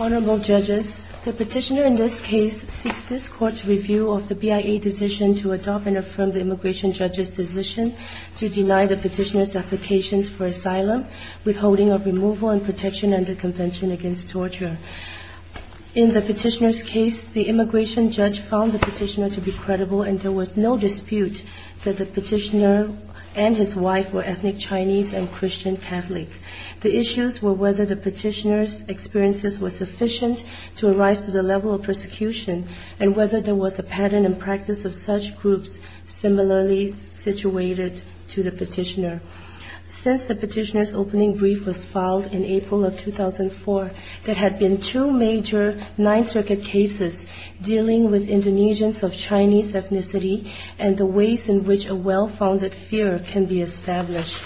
Honourable Judges, The Petitioner in this case seeks this Court's review of the BIA decision to adopt and affirm the Immigration Judge's decision to deny the Petitioner's applications for asylum, withholding of removal and protection under Convention Against Torture. In the Petitioner's case, the Immigration Judge found the Petitioner to be credible and there was no dispute that the Petitioner and his wife were ethnic Chinese and Christian Catholic. The issues were whether the Petitioner's experiences were sufficient to arise to the level of persecution and whether there was a pattern and practice of such groups similarly situated to the Petitioner. Since the Petitioner's opening brief was filed in April of 2004, there had been two major Ninth Circuit cases dealing with Indonesians of Chinese ethnicity and the ways in which a well-founded fear can be established.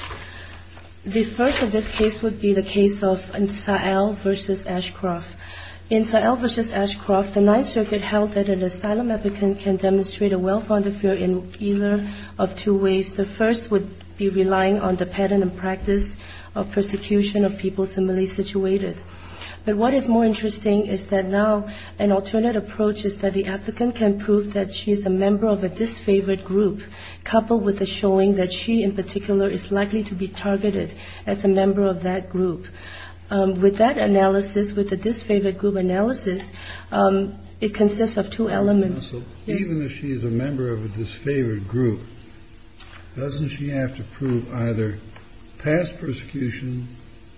The first of this case would be the case of Sa'el v. Ashcroft. In Sa'el v. Ashcroft, the Ninth Circuit held that an asylum applicant can demonstrate a well-founded fear in either of two ways. The first would be relying on the pattern and practice of persecution of people similarly situated. But what is more interesting is that now an alternate approach is that the applicant can prove that she is a member of a disfavoured group coupled with the showing that she in particular is likely to be targeted as a member of that group. With that analysis, with the disfavoured group analysis, it consists of two elements. Even if she is a member of a disfavoured group, doesn't she have to prove either past persecution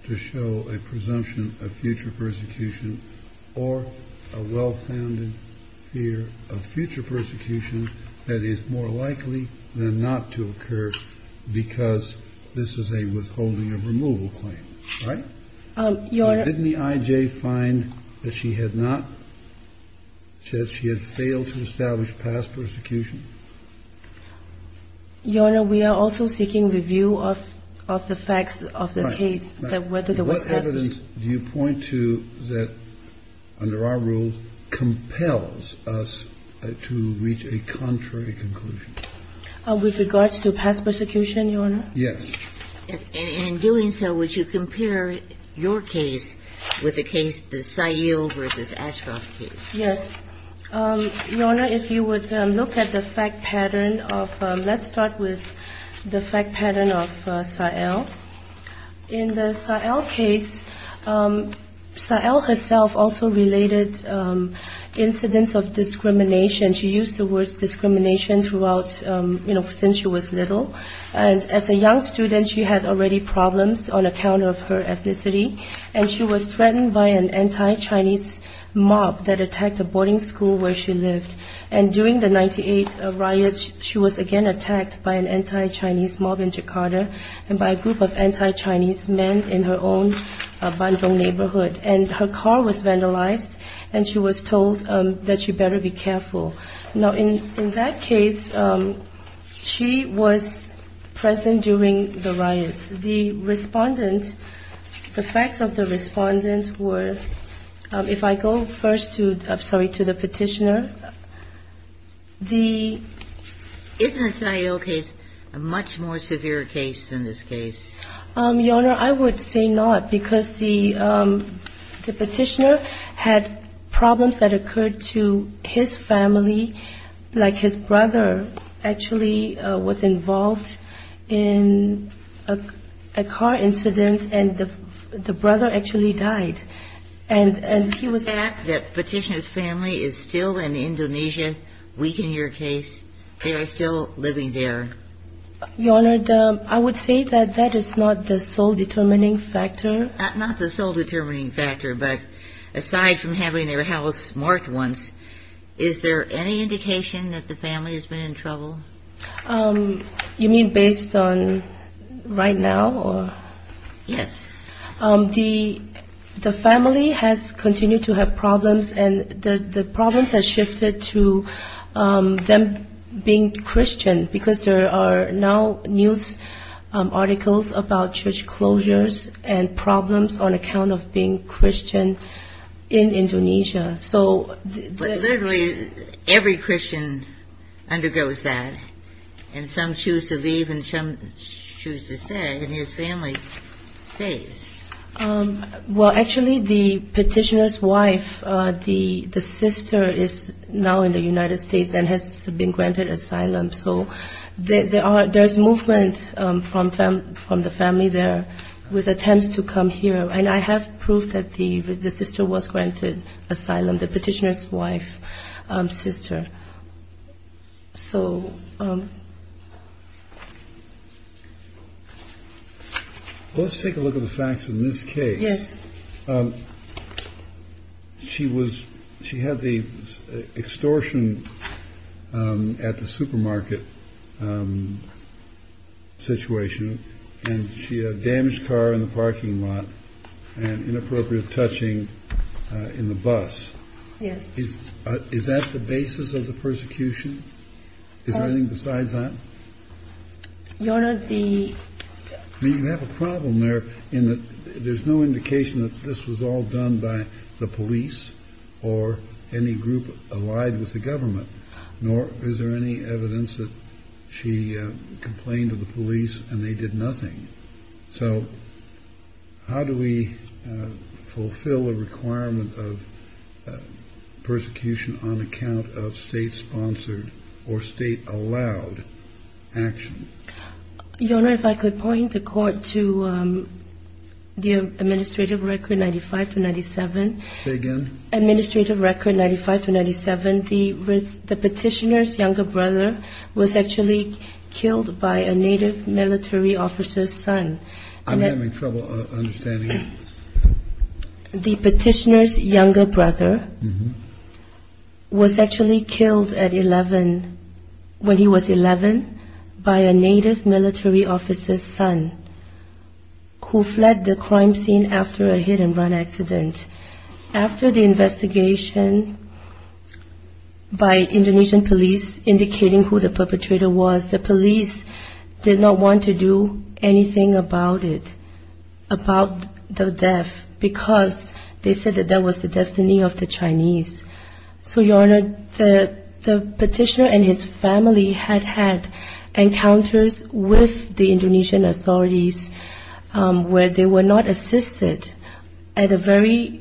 to show a presumption of future persecution or a well-founded fear of future persecution that is more likely than not to occur because this is a withholding of removal claim? Right? Didn't the I.J. find that she had not, that she had failed to establish past persecution? Your Honor, we are also seeking review of the facts of the case that whether there was past persecution. And do you point to that, under our rule, compels us to reach a contrary conclusion? With regards to past persecution, Your Honor? Yes. And in doing so, would you compare your case with the case, the Sahil v. Ashcroft case? Yes. Your Honor, if you would look at the fact pattern of, let's start with the fact pattern of Sahil. In the Sahil case, Sahil herself also related incidents of discrimination. She used the word discrimination throughout, you know, since she was little. And as a young student, she had already problems on account of her ethnicity. And she was threatened by an anti-Chinese mob that attacked a boarding school where she lived. And during the 1998 riots, she was again attacked by an anti-Chinese mob in Jakarta and by a group of anti-Chinese men in her own Bandung neighborhood. And her car was vandalized, and she was told that she better be careful. Now, in that case, she was present during the riots. The respondent, the facts of the respondent were, if I go first to, I'm sorry, to the petitioner. The ---- Isn't the Sahil case a much more severe case than this case? Your Honor, I would say not, because the petitioner had problems that occurred to his family, like his brother actually was involved in a car incident, and the brother actually died. Is the fact that the petitioner's family is still in Indonesia, weak in your case, they are still living there? Your Honor, I would say that that is not the sole determining factor. Not the sole determining factor, but aside from having their house marked once, is there any indication that the family has been in trouble? You mean based on right now? Yes. The family has continued to have problems, and the problems have shifted to them being Christian, because there are now news articles about church closures and problems on account of being Christian in Indonesia. But literally every Christian undergoes that, and some choose to leave and some choose to stay, and his family stays. Well, actually the petitioner's wife, the sister, is now in the United States and has been granted asylum, so there's movement from the family there with attempts to come here, and I have proof that the sister was granted asylum, the petitioner's wife, sister. Let's take a look at the facts in this case. Yes. She had the extortion at the supermarket situation, and she had a damaged car in the parking lot and inappropriate touching in the bus. Yes. Is that the basis of the persecution? Is there anything besides that? Your Honor, the ---- I mean, you have a problem there in that there's no indication that this was all done by the police or any group allied with the government, nor is there any evidence that she complained to the police and they did nothing. So how do we fulfill a requirement of persecution on account of state-sponsored or state-allowed action? Your Honor, if I could point the court to the administrative record 95 to 97. Say again? Administrative record 95 to 97. The petitioner's younger brother was actually killed by a native military officer's son. I'm having trouble understanding it. The petitioner's younger brother was actually killed at 11, when he was 11, by a native military officer's son who fled the crime scene after a hit-and-run accident. After the investigation by Indonesian police indicating who the perpetrator was, the police did not want to do anything about it, about the death, because they said that that was the destiny of the Chinese. So, Your Honor, the petitioner and his family had had encounters with the Indonesian authorities where they were not assisted. At a very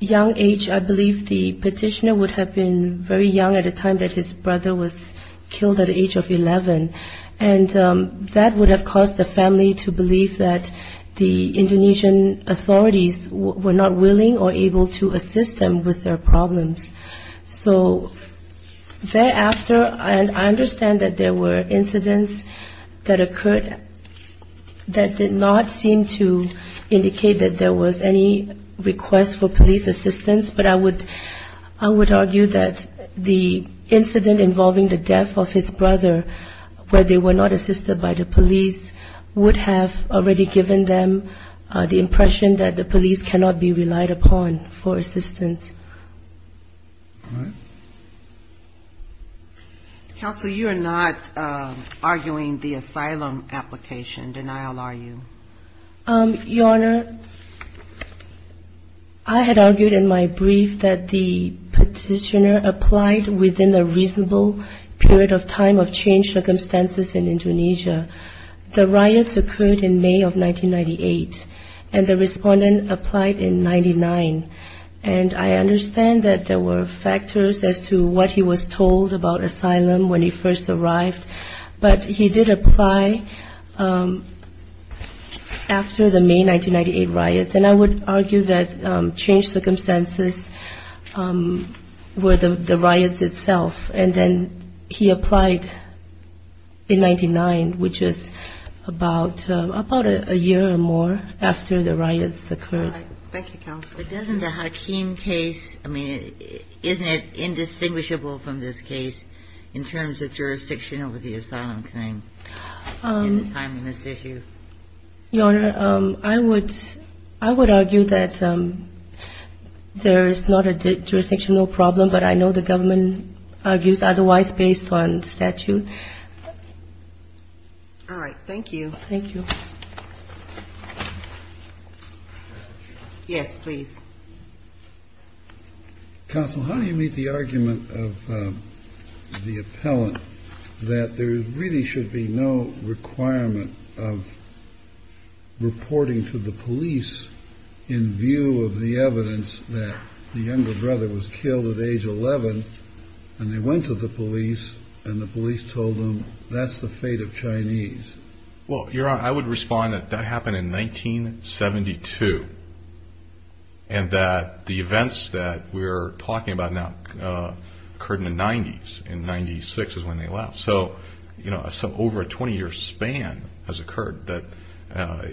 young age, I believe the petitioner would have been very young at the time that his brother was killed at the age of 11, and that would have caused the family to believe that the Indonesian authorities were not willing or able to assist them with their problems. So, thereafter, I understand that there were incidents that occurred that did not seem to indicate that there was any request for police assistance, but I would argue that the incident involving the death of his brother, where they were not assisted by the police, would have already given them the impression that the police cannot be relied upon for assistance. All right. Counsel, you are not arguing the asylum application denial, are you? Your Honor, I had argued in my brief that the petitioner applied within a reasonable period of time of changed circumstances in Indonesia. The riots occurred in May of 1998, and the respondent applied in 1999, and I understand that there were factors as to what he was told about asylum when he first arrived, but he did apply after the May 1998 riots, and I would argue that changed circumstances were the riots itself, and then he applied in 1999, which is about a year or more after the riots occurred. Thank you, Counsel. But doesn't the Hakim case, I mean, isn't it indistinguishable from this case in terms of jurisdiction over the asylum claim in the time in this issue? Your Honor, I would argue that there is not a jurisdictional problem, but I know the government argues otherwise based on statute. All right. Thank you. Thank you. Yes, please. Counsel, how do you meet the argument of the appellant that there really should be no requirement of reporting to the police in view of the evidence that the younger brother was killed at age 11, and they went to the police, and the police told them that's the fate of Chinese? Well, Your Honor, I would respond that that happened in 1972, and that the events that we're talking about now occurred in the 90s. In 96 is when they left. So, you know, over a 20-year span has occurred that,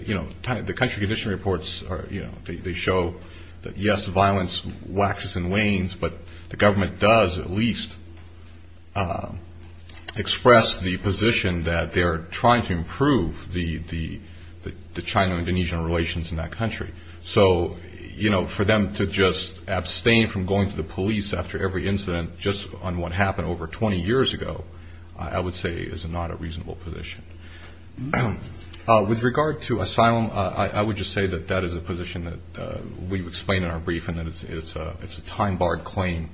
you know, the country condition reports, you know, they show that, yes, violence waxes and wanes, but the government does at least express the position that they're trying to improve the China-Indonesian relations in that country. So, you know, for them to just abstain from going to the police after every incident, just on what happened over 20 years ago, I would say is not a reasonable position. With regard to asylum, I would just say that that is a position that we've explained in our brief, and that it's a time-barred claim.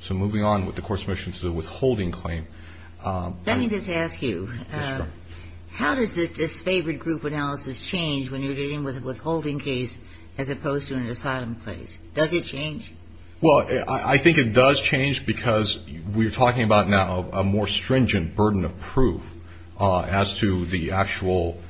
So moving on with the court's motion to the withholding claim. Let me just ask you, how does this disfavored group analysis change when you're dealing with a withholding case as opposed to an asylum case? Does it change? Well, I think it does change because we're talking about now a more stringent burden of proof as to the actual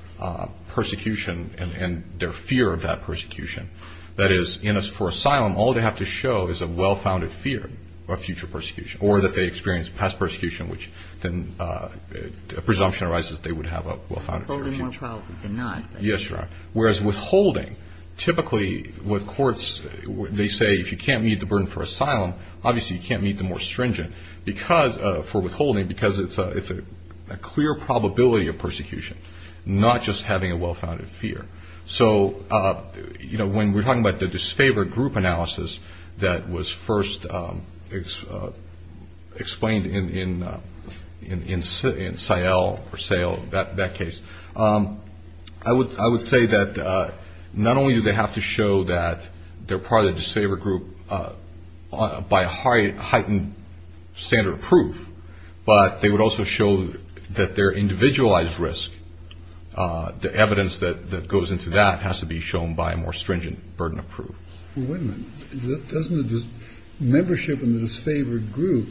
persecution and their fear of that persecution. That is, for asylum, all they have to show is a well-founded fear of future persecution, or that they experienced past persecution, which then a presumption arises that they would have a well-founded fear. Withholding in trial, we did not. Yes, Your Honor. Whereas withholding, typically with courts, they say if you can't meet the burden for asylum, obviously you can't meet the more stringent for withholding because it's a clear probability of persecution, not just having a well-founded fear. So, you know, when we're talking about the disfavored group analysis that was first explained in Sayle, that case, I would say that not only do they have to show that they're part of the disfavored group by a heightened standard of proof, but they would also show that their individualized risk, the evidence that goes into that has to be shown by a more stringent burden of proof. Wait a minute. Doesn't the membership in the disfavored group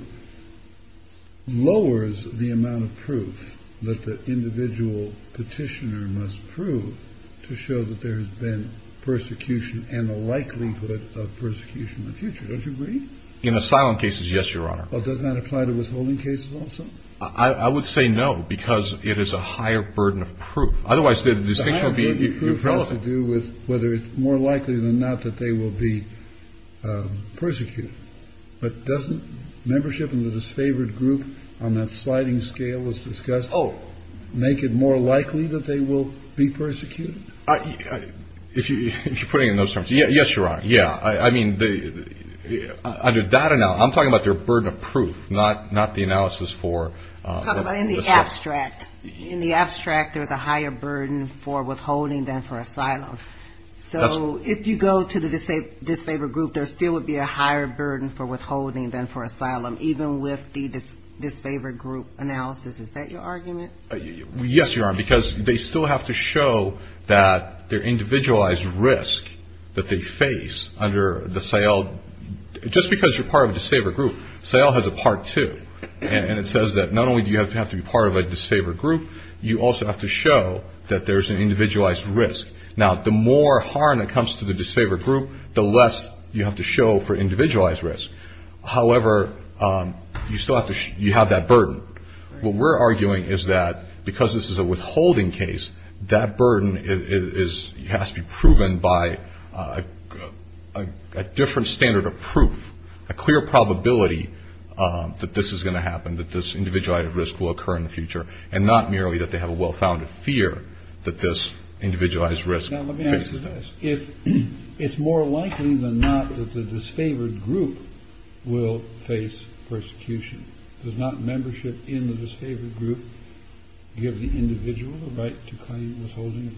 lowers the amount of proof that the individual petitioner must prove to show that there has been persecution and the likelihood of persecution in the future? Don't you agree? In asylum cases, yes, Your Honor. Does that apply to withholding cases also? I would say no, because it is a higher burden of proof. Otherwise, the distinction would be irrelevant. The higher burden of proof has to do with whether it's more likely than not that they will be persecuted. But doesn't membership in the disfavored group on that sliding scale as discussed make it more likely that they will be persecuted? If you're putting it in those terms, yes, Your Honor. Yeah. I mean, under that analysis, I'm talking about their burden of proof, not the analysis for. I'm talking about in the abstract. In the abstract, there's a higher burden for withholding than for asylum. So if you go to the disfavored group, there still would be a higher burden for withholding than for asylum, even with the disfavored group analysis. Is that your argument? Yes, Your Honor, because they still have to show that their individualized risk that they face under the SAIL, just because you're part of a disfavored group, SAIL has a part two. And it says that not only do you have to be part of a disfavored group, you also have to show that there's an individualized risk. Now, the more harm that comes to the disfavored group, the less you have to show for individualized risk. However, you still have to you have that burden. What we're arguing is that because this is a withholding case, that burden is has to be proven by a different standard of proof, a clear probability that this is going to happen, that this individualized risk will occur in the future and not merely that they have a well-founded fear that this individualized risk. If it's more likely than not that the disfavored group will face persecution, does not membership in the disfavored group give the individual the right to claim withholding?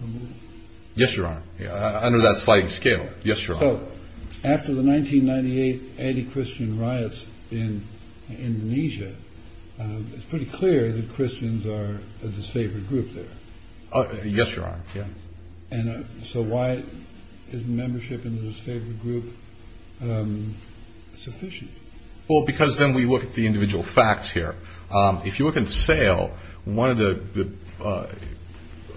Yes, Your Honor. Under that slight scale. Yes, Your Honor. After the 1998 anti-Christian riots in Indonesia, it's pretty clear that Christians are a disfavored group there. Yes, Your Honor. And so why is membership in the disfavored group sufficient? Well, because then we look at the individual facts here. If you look at Sayle, one of the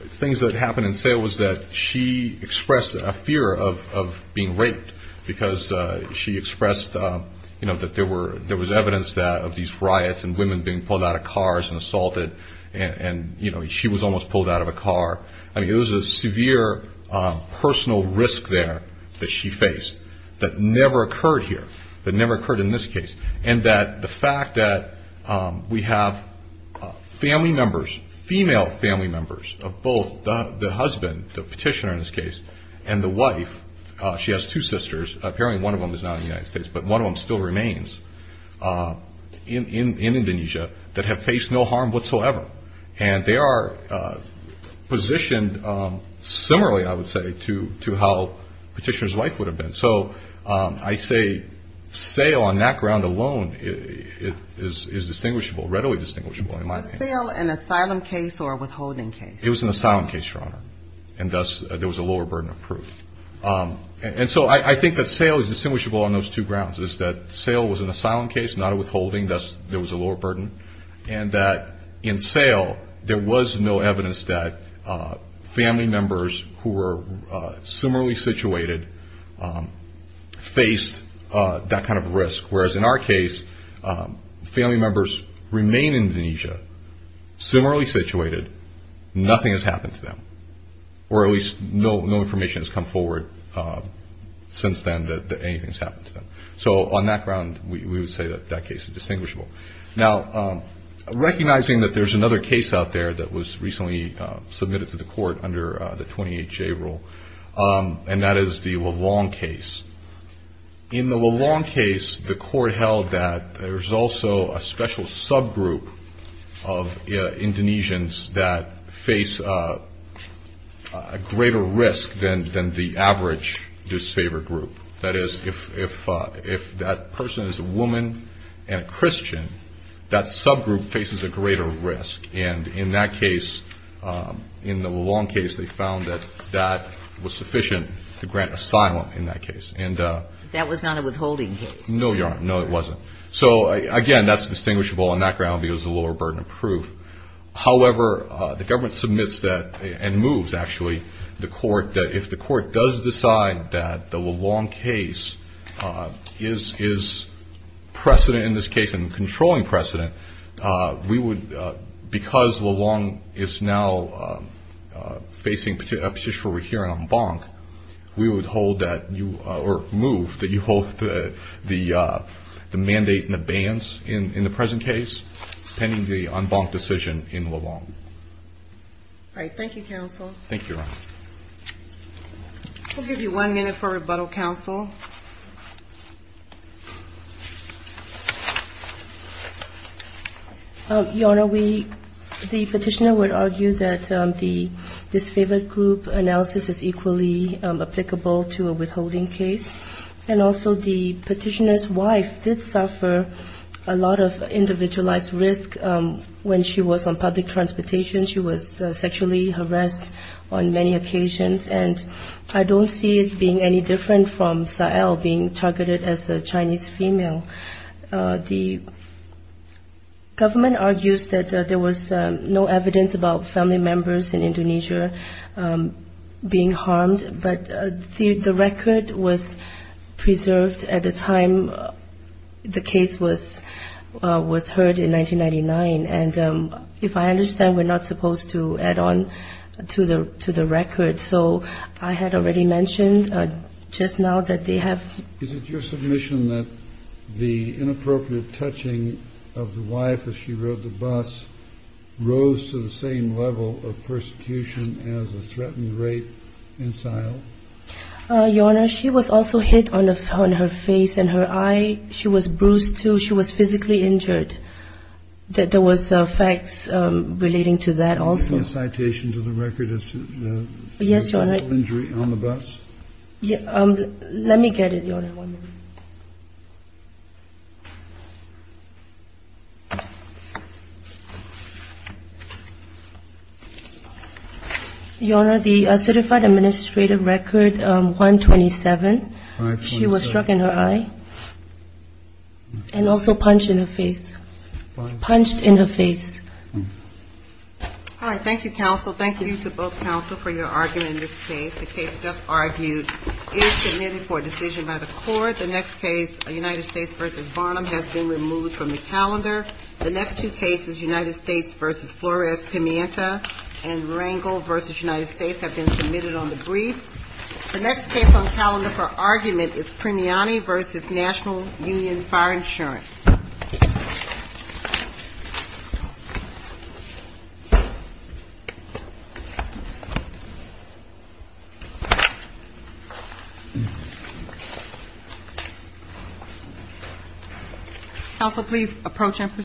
things that happened in Sayle was that she expressed a fear of being raped because she expressed that there was evidence of these riots and women being pulled out of cars and assaulted. And, you know, she was almost pulled out of a car. I mean, there was a severe personal risk there that she faced that never occurred here, that never occurred in this case. And that the fact that we have family members, female family members of both the husband, the petitioner in this case, and the wife, she has two sisters, apparently one of them is now in the United States, but one of them still remains in Indonesia that have faced no harm whatsoever. And they are positioned similarly, I would say, to how petitioner's wife would have been. So I say Sayle on that ground alone is distinguishable, readily distinguishable in my opinion. Was Sayle an asylum case or a withholding case? It was an asylum case, Your Honor, and thus there was a lower burden of proof. And so I think that Sayle is distinguishable on those two grounds, is that Sayle was an asylum case, not a withholding, thus there was a lower burden. And that in Sayle, there was no evidence that family members who were similarly situated faced that kind of risk. Whereas in our case, family members remain in Indonesia, similarly situated, nothing has happened to them. Or at least no information has come forward since then that anything has happened to them. So on that ground, we would say that that case is distinguishable. Now, recognizing that there's another case out there that was recently submitted to the court under the 28-J rule, and that is the Lelong case. In the Lelong case, the court held that there's also a special subgroup of Indonesians that face a greater risk than the average disfavored group. That is, if that person is a woman and a Christian, that subgroup faces a greater risk. And in that case, in the Lelong case, they found that that was sufficient to grant asylum in that case. And that was not a withholding case. No, Your Honor. No, it wasn't. So, again, that's distinguishable on that ground because of the lower burden of proof. However, the government submits that and moves, actually, the court, that if the court does decide that the Lelong case is precedent in this case and controlling precedent, we would, because Lelong is now facing a petition for rehearing en banc, we would hold that or move that you hold the mandate in abeyance in the present case, pending the en banc decision in Lelong. All right. Thank you, counsel. Thank you, Your Honor. We'll give you one minute for rebuttal, counsel. Your Honor, we, the petitioner would argue that the disfavored group analysis is equally applicable to a withholding case. And also, the petitioner's wife did suffer a lot of individualized risk when she was on public transportation. She was sexually harassed on many occasions. And I don't see it being any different from Sahel being targeted as a Chinese female. The government argues that there was no evidence about family members in Indonesia being harmed, but the record was preserved at the time the case was heard in 1999. And if I understand, we're not supposed to add on to the record. So I had already mentioned just now that they have. Is it your submission that the inappropriate touching of the wife as she rode the bus rose to the same level of persecution as a threatened rape in Sahel? Your Honor, she was also hit on her face and her eye. She was bruised, too. She was physically injured. There was facts relating to that also. Is there a citation to the record as to the physical injury on the bus? Let me get it, Your Honor. Your Honor, the certified administrative record 127. She was struck in her eye and also punched in her face. Punched in her face. All right. Thank you, counsel. Thank you to both counsel for your argument in this case. The case just argued is submitted for decision by the court. The next case, United States v. Barnum, has been removed from the calendar. The next two cases, United States v. Flores-Pimienta and Rangel v. United States, have been submitted on the brief. The next case on calendar for argument is Primiani v. National Union Fire Insurance. Counsel, please approach and proceed.